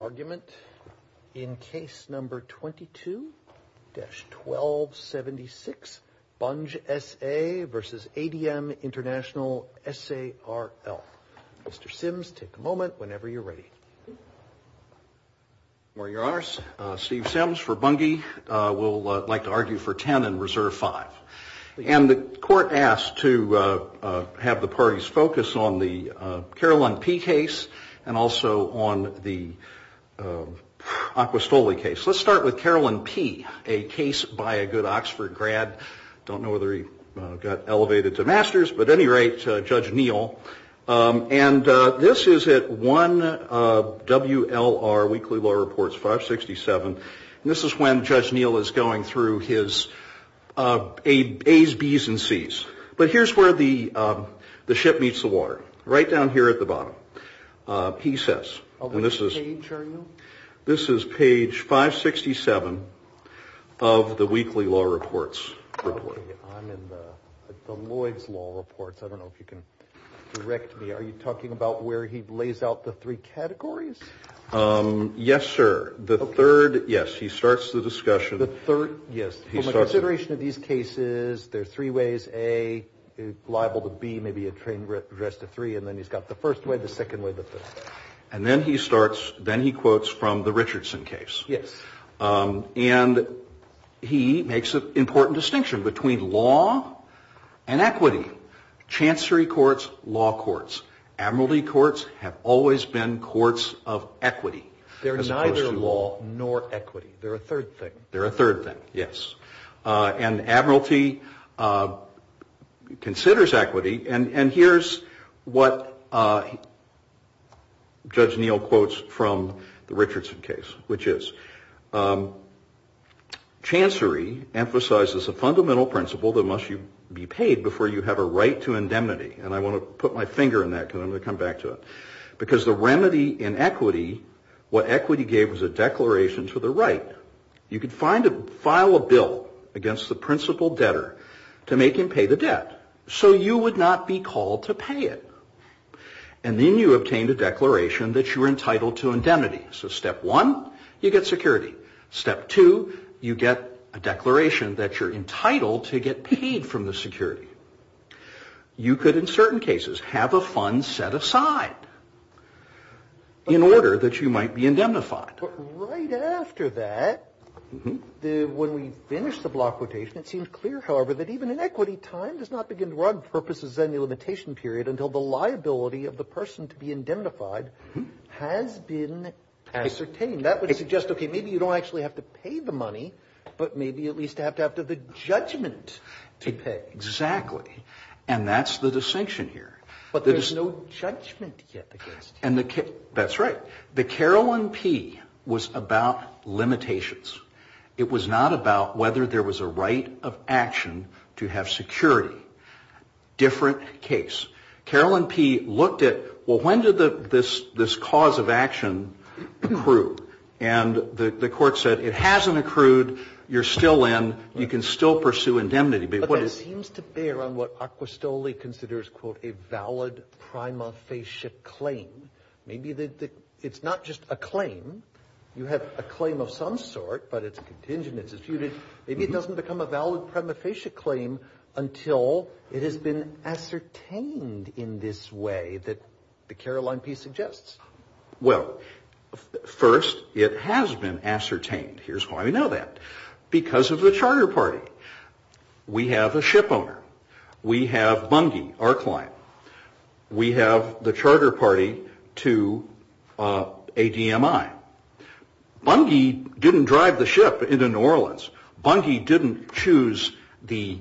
Argument in case number 22-1276, Bunge SA v. Adm International Sarl. Mr. Sims, take a moment whenever you're ready. Where you are, Steve Sims for Bunge. We'll like to argue for 10 and reserve 5. And the court asked to have the parties focus on the Carolyn P case and also on the Acquistole case. Let's start with Carolyn P, a case by a good Oxford grad. Don't know whether he got elevated to master's, but at any rate, Judge Neal. And this is at 1 WLR Weekly Law Reports 567. And this is when Judge Neal is going through his A's, B's, and C's. But here's where the ship meets the water. Right down here at the bottom. P says. Which page are you? This is page 567 of the Weekly Law Reports. I'm in the Lloyd's Law Reports. I don't know if you can direct me. Are you talking about where he lays out the three categories? Yes, sir. The third. Yes. He starts the discussion. The third. Yes. Consideration of these cases. There are three ways. A, liable to B, maybe a train wreck. The rest are three. And then he's got the first way, the second way, the third. And then he starts. Then he quotes from the Richardson case. Yes. And he makes an important distinction between law and equity. Chancery courts, law courts. Admiralty courts have always been courts of equity. They're neither law nor equity. They're a third thing. They're a third thing. Yes. And Admiralty considers equity. And here's what Judge Neal quotes from the Richardson case, which is. Chancery emphasizes a fundamental principle that must be paid before you have a right to indemnity. And I want to put my finger in that because I'm going to come back to it. Because the remedy in equity, what equity gave was a declaration to the right. You could file a bill against the principal debtor to make him pay the debt. So you would not be called to pay it. And then you obtained a declaration that you were entitled to indemnity. So step one, you get security. Step two, you get a declaration that you're entitled to get paid from the security. You could, in certain cases, have a fund set aside in order that you might be indemnified. But right after that, when we finish the block quotation, it seems clear, however, that even in equity, time does not begin to run purposes any limitation period until the liability of the person to be indemnified has been ascertained. That would suggest, okay, maybe you don't actually have to pay the money, but maybe at least you have to have the judgment to pay. Exactly. And that's the distinction here. But there's no judgment yet against you. That's right. The Carolyn P. was about limitations. It was not about whether there was a right of action to have security. Different case. Carolyn P. looked at, well, when did this cause of action accrue? And the court said, it hasn't accrued. You're still in. You can still pursue indemnity. But that seems to bear on what Acquistoli considers, quote, a valid prima facie claim. Maybe it's not just a claim. You have a claim of some sort, but it's contingent. Maybe it doesn't become a valid prima facie claim until it has been ascertained in this way that the Carolyn P. suggests. Well, first, it has been ascertained. Here's why we know that. Because of the charter party. We have a ship owner. We have Bungie, our client. We have the charter party to ADMI. Bungie didn't drive the ship into New Orleans. Bungie didn't choose the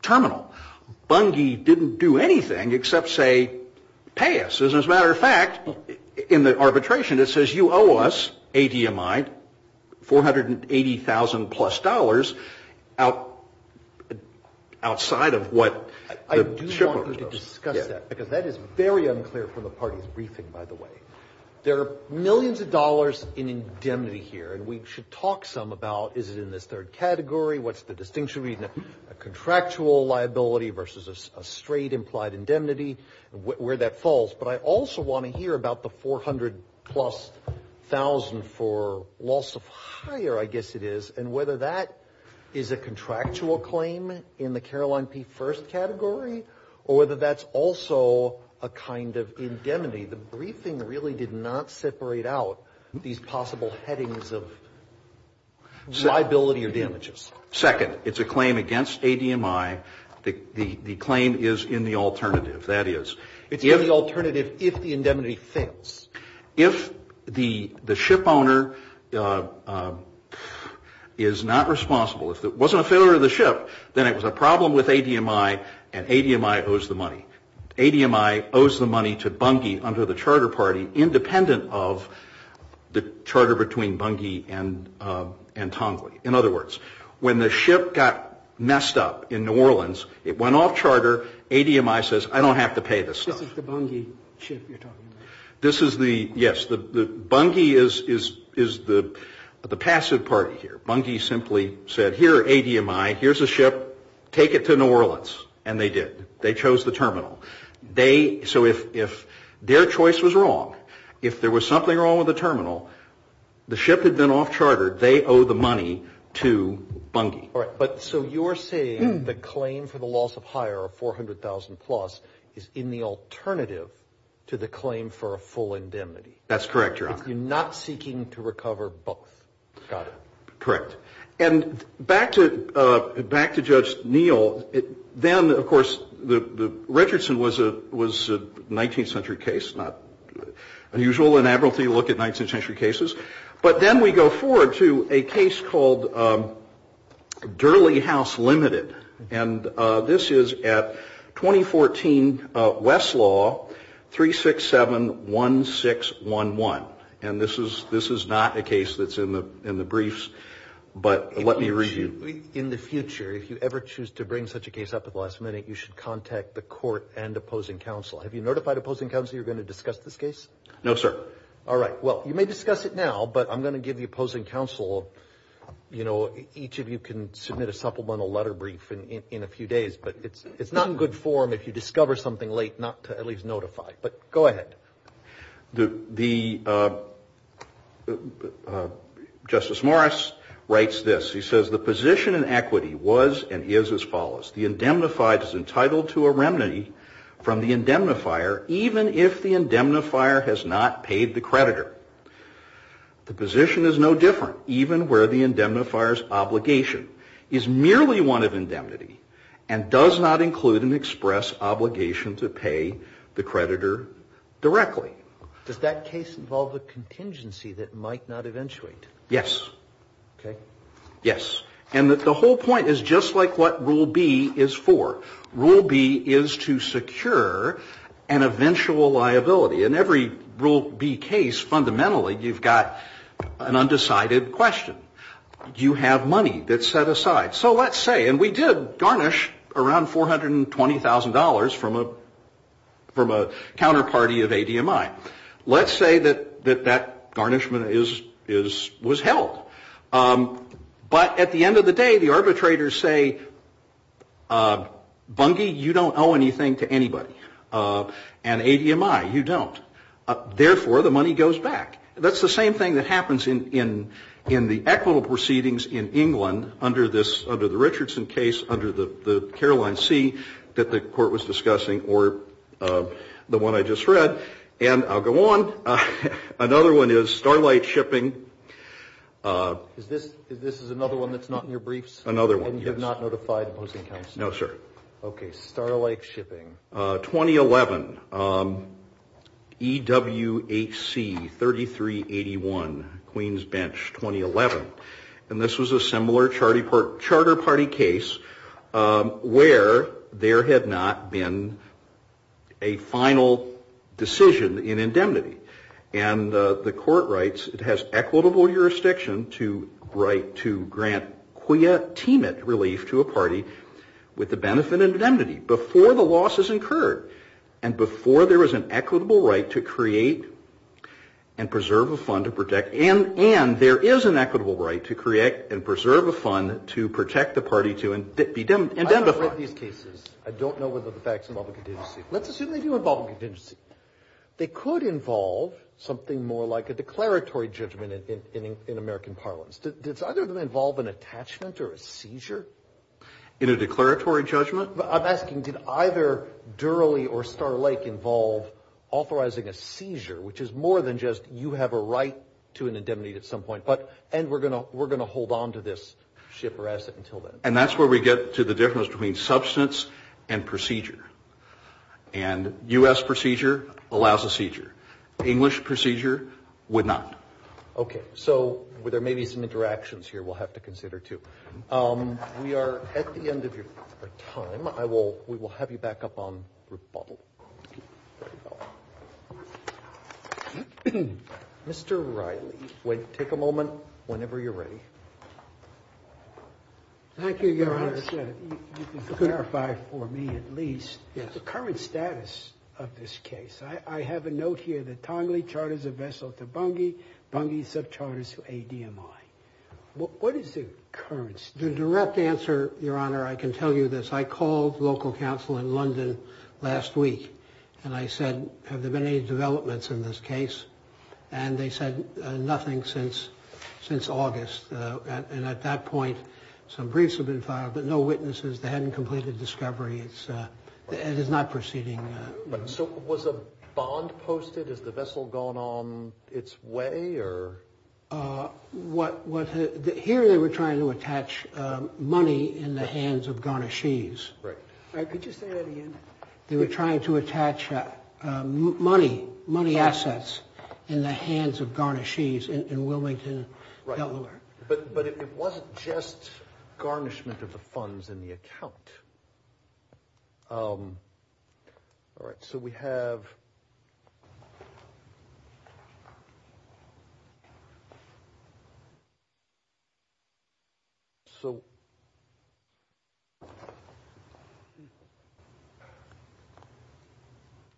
terminal. Bungie didn't do anything except say, pay us. As a matter of fact, in the arbitration, it says, you owe us, ADMI, $480,000 plus outside of what the ship owner owes. I do want you to discuss that. Because that is very unclear from the party's briefing, by the way. There are millions of dollars in indemnity here, and we should talk some about is it in this third category, what's the distinction between a contractual liability versus a straight implied indemnity, where that falls. But I also want to hear about the $400,000 plus for loss of hire, I guess it is, and whether that is a contractual claim in the Caroline P. First category, or whether that's also a kind of indemnity. The briefing really did not separate out these possible headings of liability or damages. Second, it's a claim against ADMI. The claim is in the alternative. That is. It's in the alternative if the indemnity fails. If the ship owner is not responsible, if it wasn't a failure of the ship, then it was a problem with ADMI, and ADMI owes the money. ADMI owes the money to Bungie under the charter party, independent of the charter between Bungie and Tongley. In other words, when the ship got messed up in New Orleans, it went off charter, ADMI says, I don't have to pay this stuff. This is the Bungie ship you're talking about. This is the, yes. Bungie is the passive party here. Bungie simply said, here are ADMI, here's the ship, take it to New Orleans. And they did. They chose the terminal. They, so if their choice was wrong, if there was something wrong with the terminal, the ship had been off charter, they owe the money to Bungie. All right. But so you're saying the claim for the loss of hire of 400,000 plus is in the alternative to the claim for a full indemnity. That's correct, Your Honor. If you're not seeking to recover both. Got it. Correct. And back to, back to Judge Neal, then, of course, the Richardson was a, was a 19th century case, not unusual in Admiralty to look at 19th century cases. But then we go forward to a case called Durley House Limited. And this is at 2014 Westlaw 3671611. And this is, this is not a case that's in the, in the briefs. But let me read you. In the future, if you ever choose to bring such a case up at the last minute, you should contact the court and opposing counsel. Have you notified opposing counsel you're going to discuss this case? No, sir. All right. Well, you may discuss it now, but I'm going to give the opposing counsel, you know, each of you can submit a supplemental letter brief in a few days. But it's not in good form if you discover something late not to at least notify. But go ahead. The, the, Justice Morris writes this. He says the position in equity was and is as follows. The indemnified is entitled to a remedy from the indemnifier even if the indemnifier has not paid the creditor. The position is no different even where the indemnifier's obligation is merely one of indemnity and does not include an express obligation to pay the creditor directly. Does that case involve a contingency that might not eventuate? Yes. Okay. Yes. And that the whole point is just like what Rule B is for. Rule B is to secure an eventual liability. In every Rule B case fundamentally you've got an undecided question. Do you have money that's set aside? So let's say, and we did garnish around $420,000 from a, from a counterparty of ADMI. Let's say that, that that garnishment is, is, was held. But at the end of the day, the arbitrators say, Bungie, you don't owe anything to anybody. And ADMI, you don't. Therefore, the money goes back. That's the same thing that happens in, in, in the equitable proceedings in England under this, under the Richardson case, under the, the Caroline C that the Court was discussing or the one I just read. And I'll go on. Another one is Starlight Shipping. Is this, this is another one that's not in your briefs? Another one, yes. And you have not notified opposing counsel? No, sir. Okay. Starlight Shipping. 2011. EWHC 3381, Queens Bench, 2011. And this was a similar Charter Party case where there had not been a final decision in indemnity. And the Court writes, it has equitable jurisdiction to write, to grant quia teamit relief to a party with the benefit of indemnity before the loss is incurred and before there is an equitable right to create and preserve a fund to protect. And, and there is an equitable right to create and preserve a fund to protect the party to indemnify. I haven't read these cases. I don't know whether the facts involve a contingency. Let's assume they do involve a contingency. They could involve something more like a declaratory judgment in, in, in American parlance. Does either of them involve an attachment or a seizure? In a declaratory judgment? I'm asking, did either Durley or Starlake involve authorizing a seizure, which is more than just you have a right to an indemnity at some point, but, and we're going to, we're going to hold on to this ship or asset until then. And that's where we get to the difference between substance and procedure. And U.S. procedure allows a seizure. English procedure would not. Okay. So there may be some interactions here we'll have to consider too. We are at the end of your time. I will, we will have you back up on rebuttal. Mr. Riley, wait, take a moment whenever you're ready. Thank you, Your Honor. You can clarify for me at least the current status of this case. I have a note here that Tongley charters a vessel to Bungie, Bungie subcharters to ADMI. What is the current status? The direct answer, Your Honor, I can tell you this. I called local council in London last week and I said, have there been any And they said nothing since, since August. And at that point, some briefs have been filed, but no witnesses. They hadn't completed discovery. It's, it is not proceeding. So was a bond posted? Has the vessel gone on its way or? What, what, here they were trying to attach money in the hands of Garnashees. Right. Could you say that again? They were trying to attach money, money assets in the hands of Garnashees in Wilmington, Delaware. But, but it wasn't just garnishment of the funds in the account. All right. So we have. So.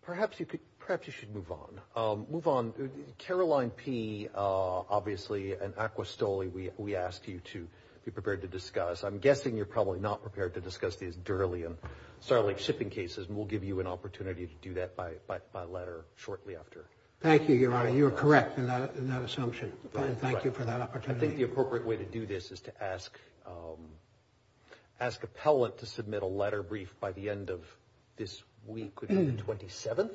Perhaps you could, perhaps you should move on, move on. Caroline P. Obviously an aqua Stoli. We, we asked you to be prepared to discuss. I'm guessing you're probably not prepared to discuss these durly and certainly shipping cases. And we'll give you an opportunity to do that by, by, by letter shortly after. Thank you, Your Honor. You are correct in that, in that assumption. Thank you for that opportunity. I think the appropriate way to do this is to ask, ask a pellet to submit a letter brief by the end of this week. 27th,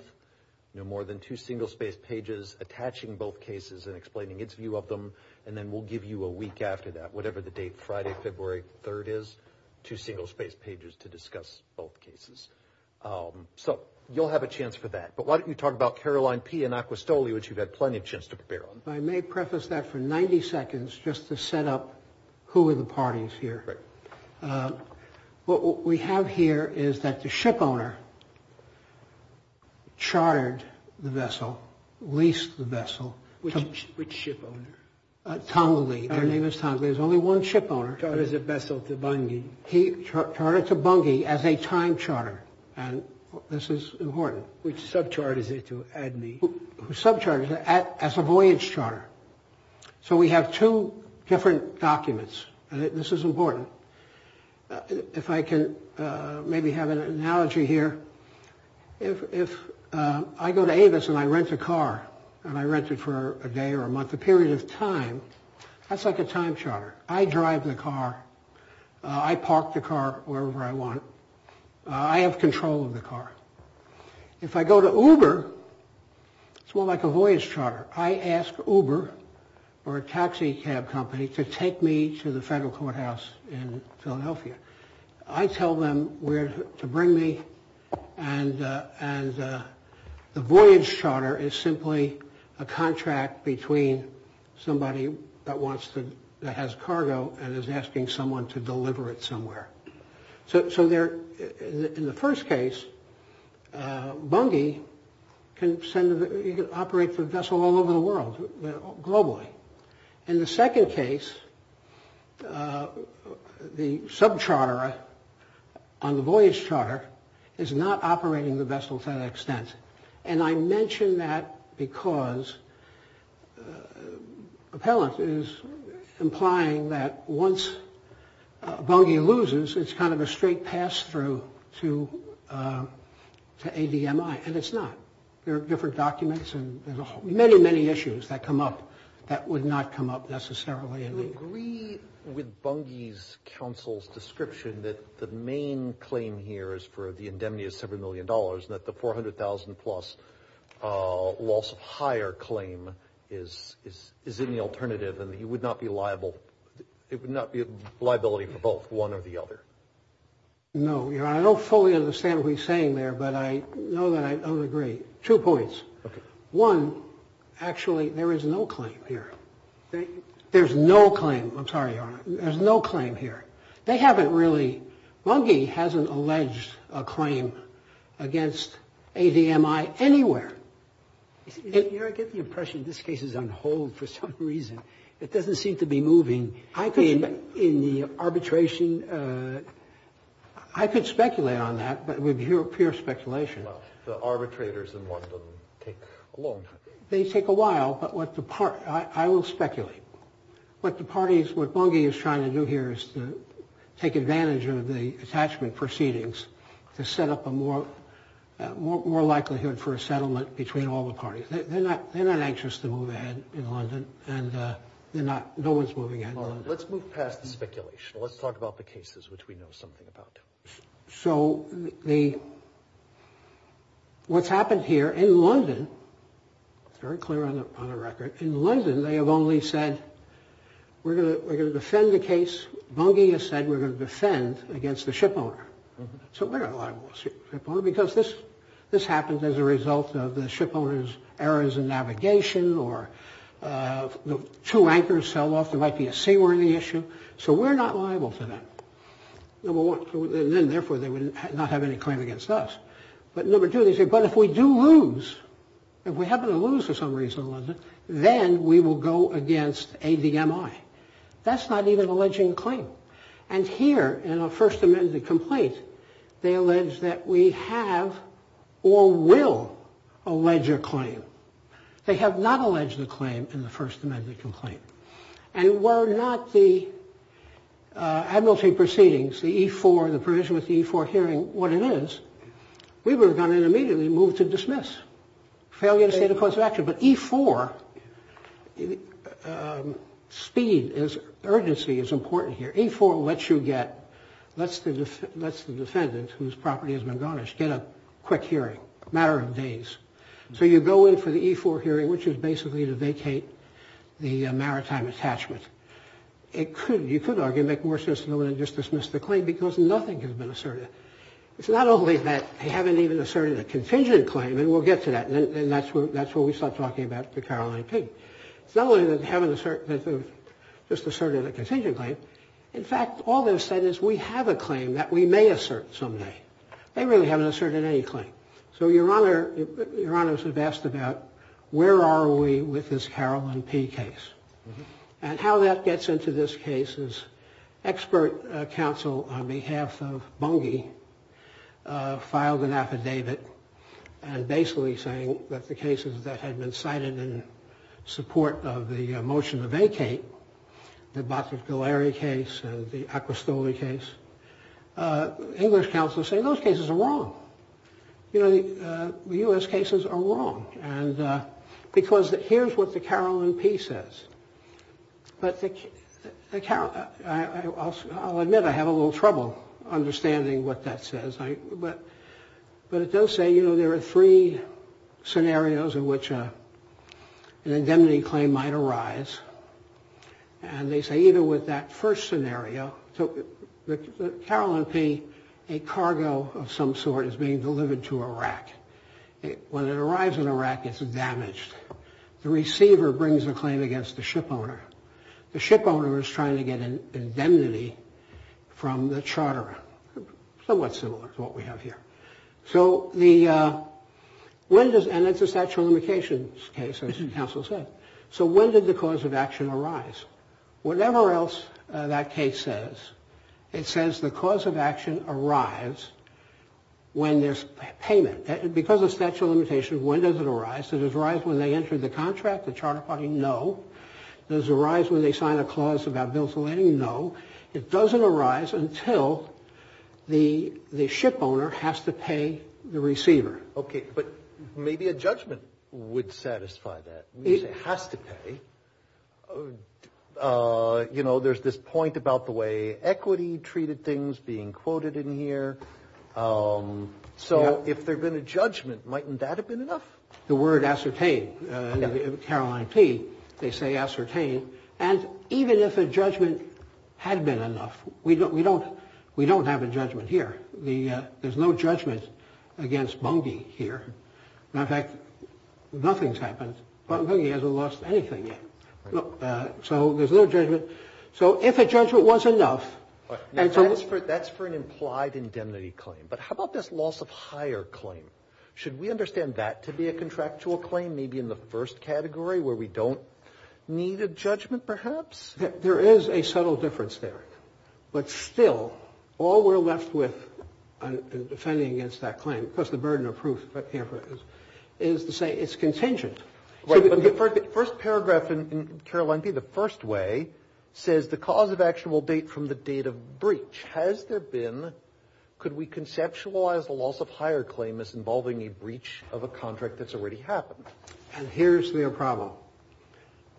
no more than two single space pages, attaching both cases and explaining its view of them. And then we'll give you a week after that, whatever the date, Friday, February 3rd is to single space pages to discuss both cases. So you'll have a chance for that. But why don't you talk about Caroline P and aqua Stoli, which you've had plenty of chance to prepare on. I may preface that for 90 seconds just to set up who are the parties here. Right. What we have here is that the ship owner chartered the vessel, leased the vessel. Which ship owner? Tongali. Her name is Tongali. There's only one ship owner. Chartered the vessel to Bungie. He chartered to Bungie as a time charter. And this is important. Which sub-charter is it to add me? Sub-charter as a voyage charter. So we have two different documents. And this is important. If I can maybe have an analogy here. If I go to Avis and I rent a car and I rent it for a day or a month, a period of time, that's like a time charter. I drive the car. I park the car wherever I want. I have control of the car. If I go to Uber, it's more like a voyage charter. I ask Uber or a taxi cab company to take me to the federal courthouse in Philadelphia. I tell them where to bring me. And the voyage charter is simply a contract between somebody that has cargo and is asking someone to deliver it somewhere. So in the first case, Bungie can operate the vessel all over the world, globally. In the second case, the sub-charter on the voyage charter is not operating the vessel to that extent. And I mention that because appellant is implying that once Bungie loses, it's kind of a straight pass-through to ADMI. And it's not. There are different documents and many, many issues that come up that would not come up necessarily. Do you agree with Bungie's counsel's description that the main claim here is for the indemnity of several million dollars and that the $400,000-plus loss of hire claim is in the alternative and it would not be a liability for both, one or the other? No, Your Honor. I don't fully understand what he's saying there, but I know that I would agree. Two points. One, actually, there is no claim here. There's no claim. I'm sorry, Your Honor. There's no claim here. They haven't really. Bungie hasn't alleged a claim against ADMI anywhere. You know, I get the impression this case is on hold for some reason. It doesn't seem to be moving. In the arbitration, I could speculate on that, but it would be pure speculation. Well, the arbitrators in London take a long time. They take a while, but I will speculate. What Bungie is trying to do here is to take advantage of the attachment proceedings to set up a more likelihood for a settlement between all the parties. They're not anxious to move ahead in London, and no one's moving ahead in London. Let's move past the speculation. Let's talk about the cases, which we know something about. So what's happened here in London, it's very clear on the record, in London they have only said, we're going to defend the case. Bungie has said we're going to defend against the shipowner. So we're not liable to the shipowner because this happened as a result of the shipowner's errors in navigation or the two anchors fell off. There might be a seawarning issue. So we're not liable to them. Number one. And then, therefore, they would not have any claim against us. But number two, they say, but if we do lose, if we happen to lose for some reason in London, then we will go against ADMI. That's not even alleging a claim. And here, in a First Amendment complaint, they allege that we have or will allege a claim. They have not alleged a claim in the First Amendment complaint. And were not the administrative proceedings, the E4, the provision with the E4 hearing what it is, we would have gone in immediately and moved to dismiss. Failure to state a cause of action. But E4, speed, urgency is important here. E4 lets you get, lets the defendant, whose property has been garnished, get a quick hearing, a matter of days. So you go in for the E4 hearing, which is basically to vacate the maritime attachment. You could argue it would make more sense to just dismiss the claim because nothing has been asserted. It's not only that they haven't even asserted a contingent claim, and we'll get to that, and that's where we start talking about the Caroline P. It's not only that they haven't asserted, just asserted a contingent claim. In fact, all they've said is we have a claim that we may assert someday. They really haven't asserted any claim. So Your Honor, Your Honors have asked about where are we with this Caroline P case. And how that gets into this case is expert counsel on behalf of Bungie filed an affidavit and basically saying that the cases that had been cited in support of the motion to vacate, the Bacchus-Galeri case and the Acquistoli case, English counsel say those cases are wrong. You know, the U.S. cases are wrong. And because here's what the Caroline P says. But the Caroline, I'll admit I have a little trouble understanding what that says. But it does say, you know, there are three scenarios in which an indemnity claim might arise. And they say, you know, with that first scenario, the Caroline P, a cargo of some sort is being delivered to Iraq. When it arrives in Iraq, it's damaged. The receiver brings a claim against the ship owner. The ship owner is trying to get an indemnity from the charterer. Somewhat similar to what we have here. So the, and it's a statute of limitations case, as counsel said. So when did the cause of action arise? Whatever else that case says, it says the cause of action arrives when there's payment. Because of statute of limitations, when does it arise? Does it arise when they enter the contract, the charter party? No. Does it arise when they sign a clause about bills of lending? No. It doesn't arise until the ship owner has to pay the receiver. Okay. But maybe a judgment would satisfy that. It has to pay. You know, there's this point about the way equity treated things being quoted in here. So if there had been a judgment, mightn't that have been enough? The word ascertain, Caroline P., they say ascertain. And even if a judgment had been enough, we don't have a judgment here. There's no judgment against Bungie here. In fact, nothing's happened. Bungie hasn't lost anything yet. So there's no judgment. So if a judgment was enough. That's for an implied indemnity claim. But how about this loss of hire claim? Should we understand that to be a contractual claim, maybe in the first category, where we don't need a judgment perhaps? There is a subtle difference there. But still, all we're left with in defending against that claim, because the burden of proof is to say it's contingent. Right. But the first paragraph in Caroline P., the first way, says the cause of action will date from the date of breach. Has there been – could we conceptualize the loss of hire claim as involving a breach of a contract that's already happened? And here's their problem.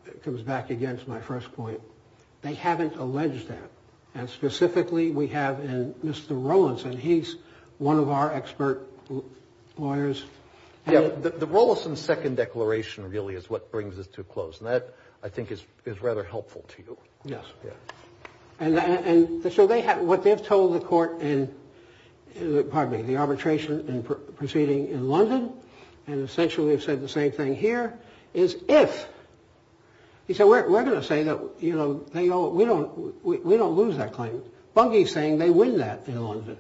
It comes back against my first point. They haven't alleged that. And specifically, we have Mr. Rowlinson. He's one of our expert lawyers. The Rowlinson Second Declaration really is what brings us to a close. And that, I think, is rather helpful to you. Yes. And so they have – what they've told the court in – pardon me, the arbitration proceeding in London, and essentially have said the same thing here, is if – he said, we're going to say that, you know, we don't lose that claim. Bunge is saying they win that in London.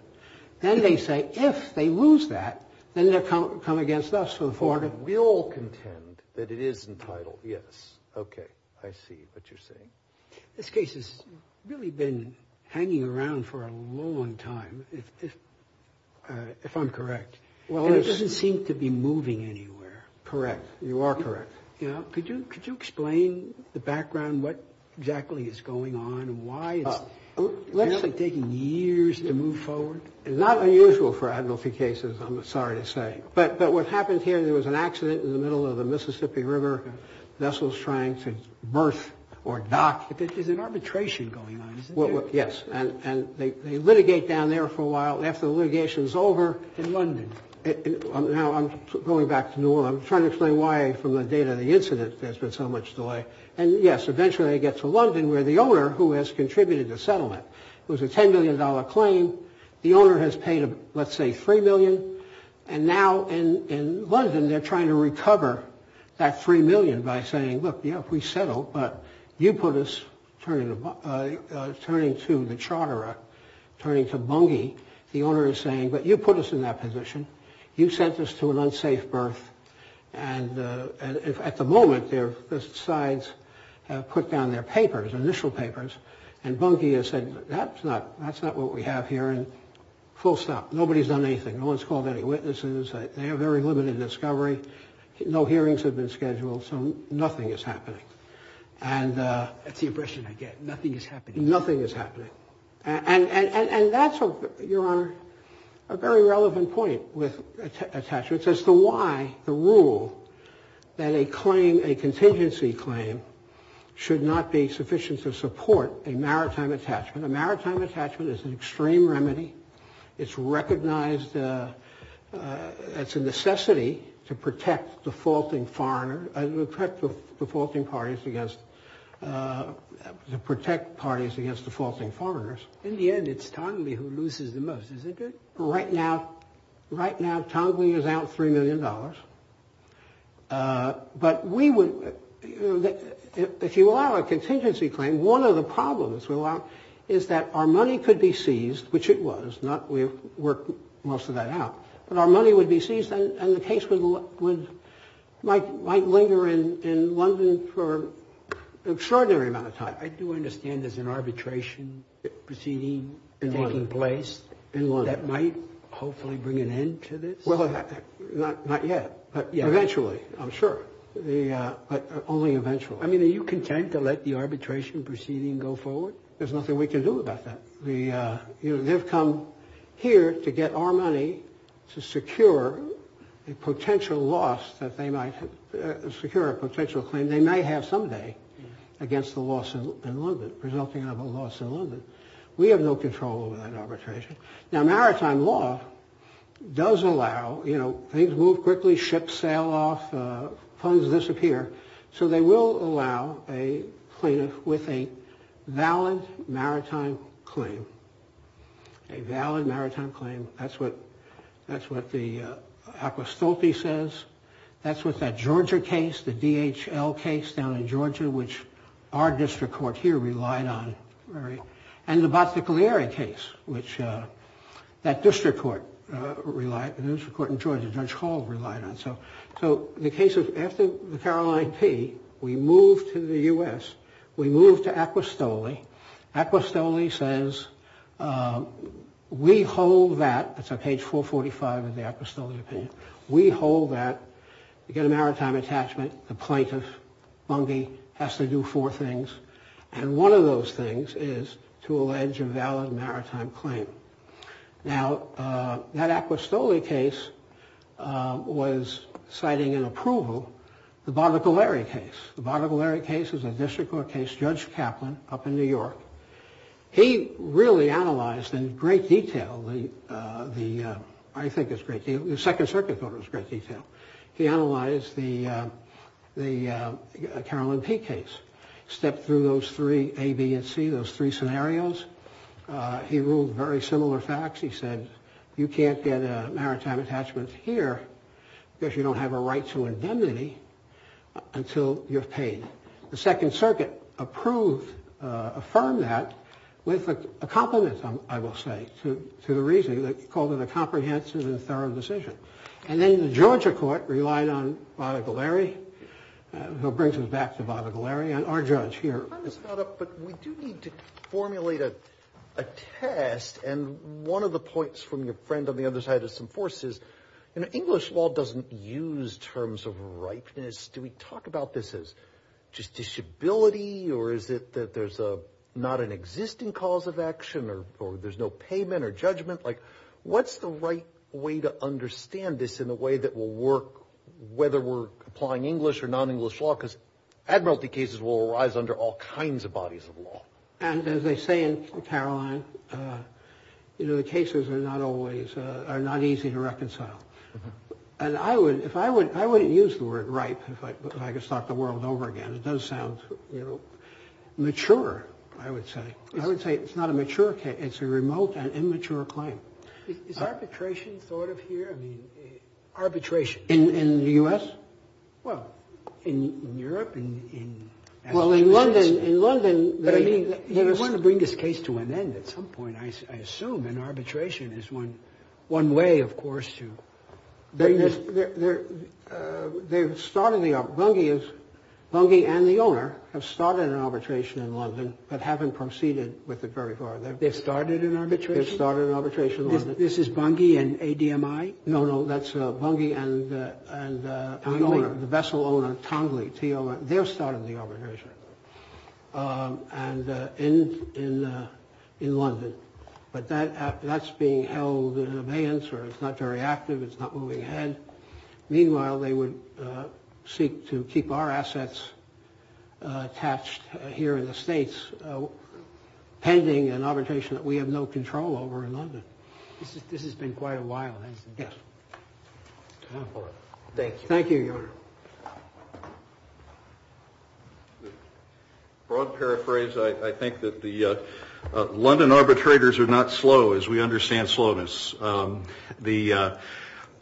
Then they say, if they lose that, then they'll come against us for the forego. We all contend that it is entitled, yes. Okay, I see what you're saying. This case has really been hanging around for a long time, if I'm correct. Well, it's – And it doesn't seem to be moving anywhere. Correct. You are correct. Now, could you explain the background, what exactly is going on, and why it's actually taking years to move forward? It's not unusual for advocacy cases, I'm sorry to say. But what happened here, there was an accident in the middle of the Mississippi River. Vessels trying to berth or dock. But there's an arbitration going on, isn't there? Yes, and they litigate down there for a while. After the litigation is over – In London. Now, I'm going back to New Orleans. I'm trying to explain why, from the date of the incident, there's been so much delay. And, yes, eventually they get to London, where the owner, who has contributed the settlement, it was a $10 million claim. The owner has paid, let's say, $3 million. And now, in London, they're trying to recover that $3 million by saying, look, if we settle, but you put us – turning to the charterer, turning to Bunke, the owner is saying, but you put us in that position. You sent us to an unsafe berth. And at the moment, the sides have put down their papers, initial papers, and Bunke has said, that's not what we have here. And full stop. Nobody's done anything. No one's called any witnesses. They have very limited discovery. No hearings have been scheduled. So nothing is happening. And – That's the impression I get. Nothing is happening. Nothing is happening. And that's, Your Honor, a very relevant point with attachments as to why the rule that a claim, a contingency claim, should not be sufficient to support a maritime attachment. A maritime attachment is an extreme remedy. It's recognized – it's a necessity to protect defaulting foreigner – to protect defaulting parties against – to protect parties against defaulting foreigners. In the end, it's Tongley who loses the most, isn't it? Right now, Tongley is out $3 million. But we would – if you allow a contingency claim, one of the problems is that our money could be seized, which it was. We've worked most of that out. But our money would be seized, and the case would – might linger in London for an extraordinary amount of time. I do understand there's an arbitration proceeding taking place. In London. That might hopefully bring an end to this? Well, not yet. Eventually, I'm sure. Only eventually. I mean, are you content to let the arbitration proceeding go forward? There's nothing we can do about that. They've come here to get our money to secure a potential loss that they might – secure a potential claim they might have someday against the loss in London, resulting in a loss in London. We have no control over that arbitration. Now, maritime law does allow – you know, things move quickly, ships sail off, funds disappear. So they will allow a plaintiff with a valid maritime claim. A valid maritime claim. That's what – that's what the Acqua Stulte says. That's what that Georgia case, the DHL case down in Georgia, which our district court here relied on very – and the Batticaleira case, which that district court relied – the district court in Georgia, Judge Hall relied on. So the case of – after the Caroline P, we move to the U.S. We move to Acqua Stulte. Acqua Stulte says, we hold that – that's on page 445 of the Acqua Stulte opinion. We hold that to get a maritime attachment, the plaintiff, Bungie, has to do four things. And one of those things is to allege a valid maritime claim. Now, that Acqua Stulte case was citing in approval the Batticaleira case. The Batticaleira case is a district court case, Judge Kaplan, up in New York. He really analyzed in great detail the – I think it's great – the Second Circuit thought it was great detail. He analyzed the Caroline P case, stepped through those three, A, B, and C, those three scenarios. He ruled very similar facts. He said, you can't get a maritime attachment here because you don't have a right to indemnity until you've paid. The Second Circuit approved – affirmed that with a compliment, I will say, to the reasoning. They called it a comprehensive and thorough decision. And then the Georgia court relied on Batticaleira. That brings us back to Batticaleira. I'm just caught up, but we do need to formulate a test. And one of the points from your friend on the other side of some force is, you know, English law doesn't use terms of ripeness. Do we talk about this as just disability or is it that there's not an existing cause of action or there's no payment or judgment? Like, what's the right way to understand this in a way that will work whether we're applying English or non-English law? Because admiralty cases will arise under all kinds of bodies of law. And as they say in Caroline, you know, the cases are not easy to reconcile. And I wouldn't use the word ripe if I could start the world over again. It does sound, you know, mature, I would say. I would say it's not a mature case. It's a remote and immature claim. Is arbitration thought of here? I mean, arbitration. In the U.S.? Well, in Europe and in. Well, in London. In London. But I mean, you want to bring this case to an end at some point. I assume an arbitration is one one way, of course, to bring this. They've started. The bungee and the owner have started an arbitration in London but haven't proceeded with it very far. They've started an arbitration? They've started an arbitration. This is bungee and ADMI? No, no. That's bungee and the vessel owner, Tongley, their start of the arbitration. And in London. But that's being held in abeyance or it's not very active. It's not moving ahead. Meanwhile, they would seek to keep our assets attached here in the States pending an arbitration that we have no control over in London. This has been quite a while, hasn't it? Yes. Thank you. Thank you, Your Honor. Broad paraphrase, I think that the London arbitrators are not slow as we understand slowness. The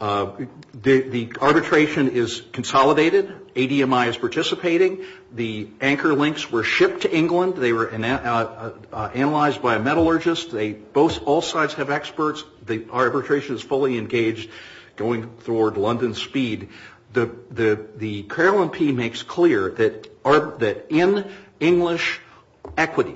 arbitration is consolidated. ADMI is participating. The anchor links were shipped to England. They were analyzed by a metallurgist. They both all sides have experts. The arbitration is fully engaged going toward London speed. The Paralympian makes clear that in English equity,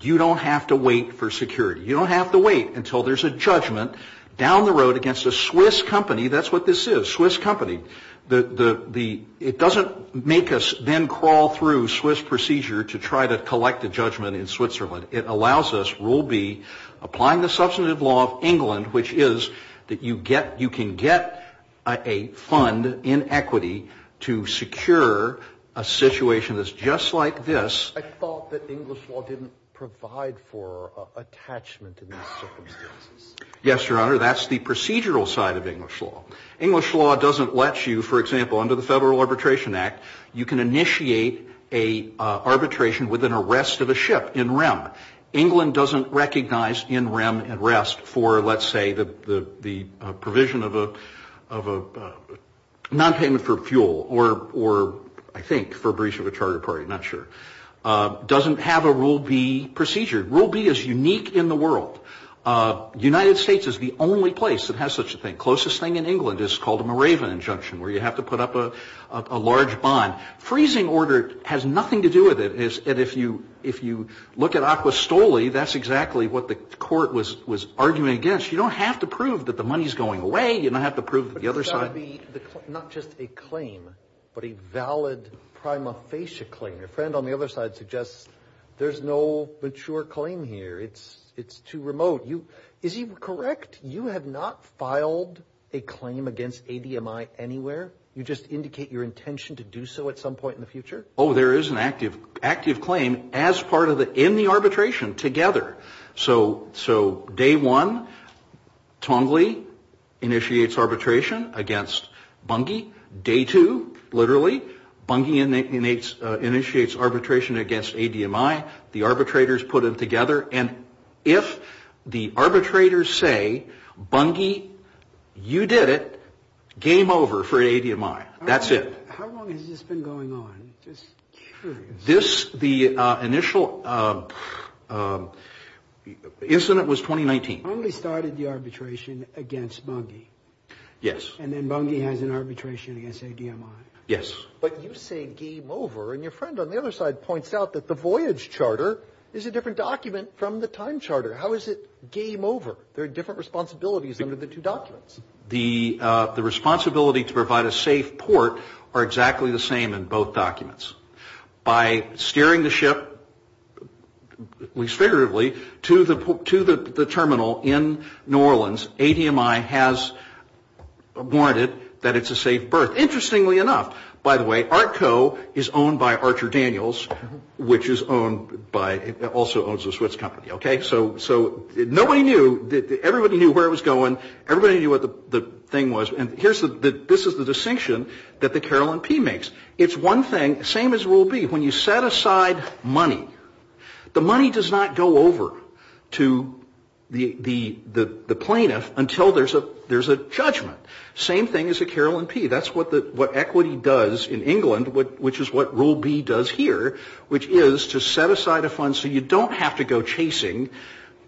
you don't have to wait for security. You don't have to wait until there's a judgment down the road against a Swiss company. That's what this is, Swiss company. It doesn't make us then crawl through Swiss procedure to try to collect a judgment in Switzerland. It allows us rule B, applying the substantive law of England, which is that you can get a fund in equity to secure a situation that's just like this. I thought that English law didn't provide for attachment in these circumstances. Yes, Your Honor. That's the procedural side of English law. English law doesn't let you, for example, under the Federal Arbitration Act, you can initiate an arbitration with an arrest of a ship in rem. England doesn't recognize in rem and rest for, let's say, the provision of a nonpayment for fuel or, I think, for breach of a charter party. I'm not sure. It doesn't have a rule B procedure. Rule B is unique in the world. United States is the only place that has such a thing. Closest thing in England is called a Moravian injunction, where you have to put up a large bond. Freezing order has nothing to do with it. If you look at Acqua Stoli, that's exactly what the court was arguing against. You don't have to prove that the money's going away. You don't have to prove that the other side. But it's got to be not just a claim, but a valid prima facie claim. Your friend on the other side suggests there's no mature claim here. It's too remote. Is he correct? You have not filed a claim against ADMI anywhere? You just indicate your intention to do so at some point in the future? Oh, there is an active claim as part of the in the arbitration together. So day one, Tongley initiates arbitration against Bungie. Day two, literally, Bungie initiates arbitration against ADMI. The arbitrators put them together. And if the arbitrators say, Bungie, you did it, game over for ADMI. That's it. How long has this been going on? Just curious. This, the initial incident was 2019. Tongley started the arbitration against Bungie. Yes. And then Bungie has an arbitration against ADMI. Yes. But you say game over. And your friend on the other side points out that the voyage charter is a different document from the time charter. How is it game over? There are different responsibilities under the two documents. The responsibility to provide a safe port are exactly the same in both documents. By steering the ship, at least figuratively, to the terminal in New Orleans, ADMI has warranted that it's a safe berth. Interestingly enough, by the way, ARTCO is owned by Archer Daniels, which is owned by, also owns a Swiss company. Okay? So nobody knew, everybody knew where it was going. Everybody knew what the thing was. And here's the, this is the distinction that the carillon P makes. It's one thing, same as rule B. When you set aside money, the money does not go over to the plaintiff until there's a judgment. Same thing as a carillon P. That's what equity does in England, which is what rule B does here, which is to set aside a fund so you don't have to go chasing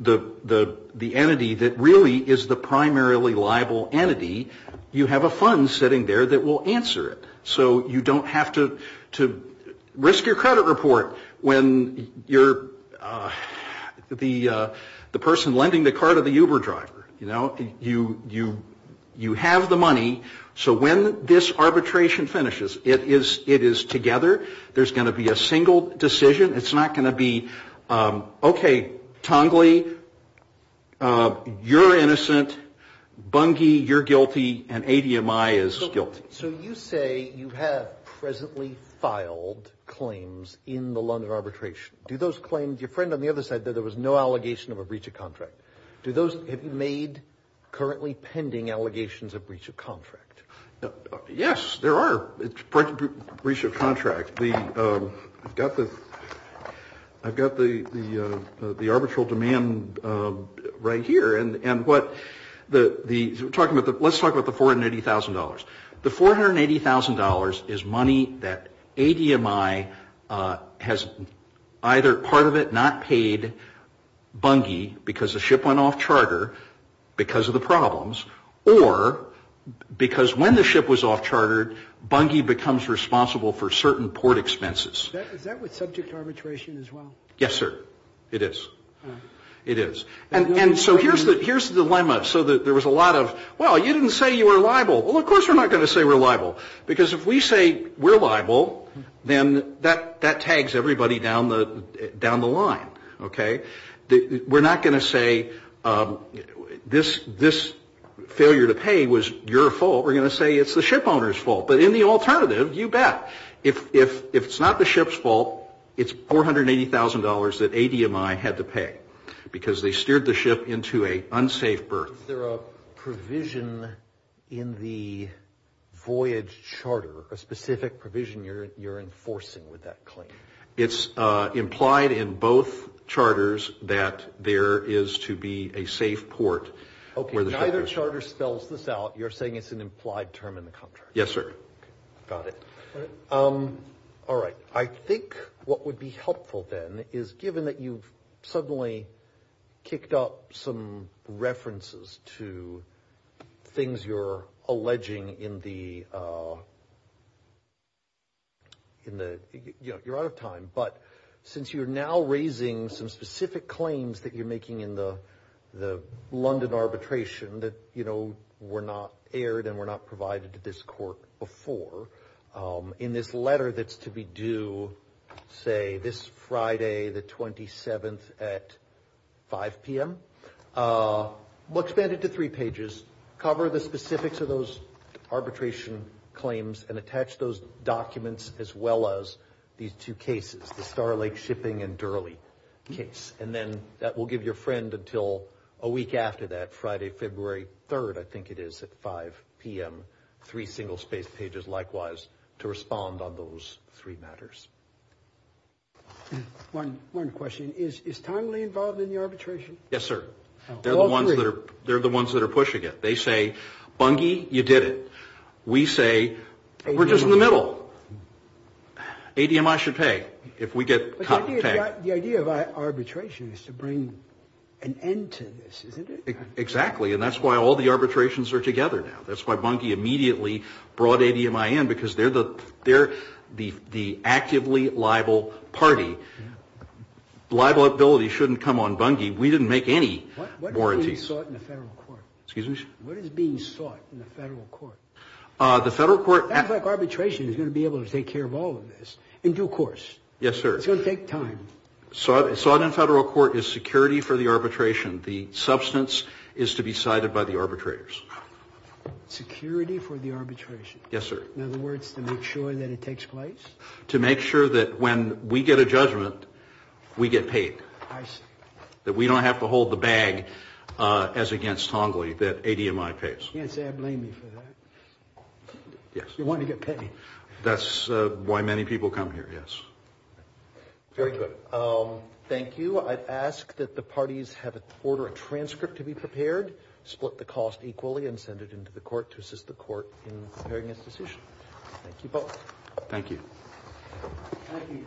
the entity that really is the primarily liable entity. You have a fund sitting there that will answer it. So you don't have to risk your credit report when you're the person lending the car to the Uber driver. You have the money, so when this arbitration finishes, it is together, there's going to be a single decision. It's not going to be, okay, Tongley, you're innocent, Bungie, you're guilty, and ADMI is guilty. So you say you have presently filed claims in the London arbitration. Do those claims, your friend on the other side there, there was no allegation of a breach of contract. Do those, have you made currently pending allegations of breach of contract? Yes, there are breach of contract. I've got the arbitral demand right here, and what the, let's talk about the $480,000. The $480,000 is money that ADMI has either part of it not paid Bungie because the ship went off charter because of the problems, or because when the ship was off chartered, Bungie becomes responsible for certain port expenses. Is that with subject arbitration as well? Yes, sir. It is. It is. And so here's the dilemma. So there was a lot of, well, you didn't say you were liable. Well, of course we're not going to say we're liable. Because if we say we're liable, then that tags everybody down the line, okay? We're not going to say this failure to pay was your fault. We're going to say it's the ship owner's fault. But in the alternative, you bet. If it's not the ship's fault, it's $480,000 that ADMI had to pay because they steered the ship into an unsafe berth. Is there a provision in the voyage charter, a specific provision you're enforcing with that claim? It's implied in both charters that there is to be a safe port. Okay, neither charter spells this out. You're saying it's an implied term in the contract. Yes, sir. Okay, got it. All right. I think what would be helpful then is, given that you've suddenly kicked up some references to things you're alleging in the – you're out of time, but since you're now raising some specific claims that you're making in the London arbitration that, you know, were not aired and were not provided to this court before, in this letter that's to be due, say, this Friday the 27th at 5 p.m., expand it to three pages, cover the specifics of those arbitration claims, and attach those documents as well as these two cases, the Star Lake shipping and Durley case. And then that will give your friend until a week after that, Friday, February 3rd, I think it is, at 5 p.m., three single-spaced pages likewise, to respond on those three matters. One question. Is timely involved in the arbitration? Yes, sir. All three? They're the ones that are pushing it. They say, Bungie, you did it. We say, we're just in the middle. ADMI should pay if we get – The idea of arbitration is to bring an end to this, isn't it? Exactly. And that's why all the arbitrations are together now. That's why Bungie immediately brought ADMI in, because they're the actively liable party. Liability shouldn't come on Bungie. We didn't make any warranties. What is being sought in the federal court? Excuse me? What is being sought in the federal court? The federal court – It sounds like arbitration is going to be able to take care of all of this in due course. Yes, sir. It's going to take time. Sought in federal court is security for the arbitration. The substance is to be cited by the arbitrators. Security for the arbitration? Yes, sir. In other words, to make sure that it takes place? To make sure that when we get a judgment, we get paid. I see. That we don't have to hold the bag as against Tongley, that ADMI pays. You can't say I blame you for that. Yes. You want to get paid. That's why many people come here, yes. Very good. Thank you. I'd ask that the parties have an order of transcript to be prepared, split the cost equally, and send it into the court to assist the court in preparing its decision. Thank you both. Thank you. Thank you.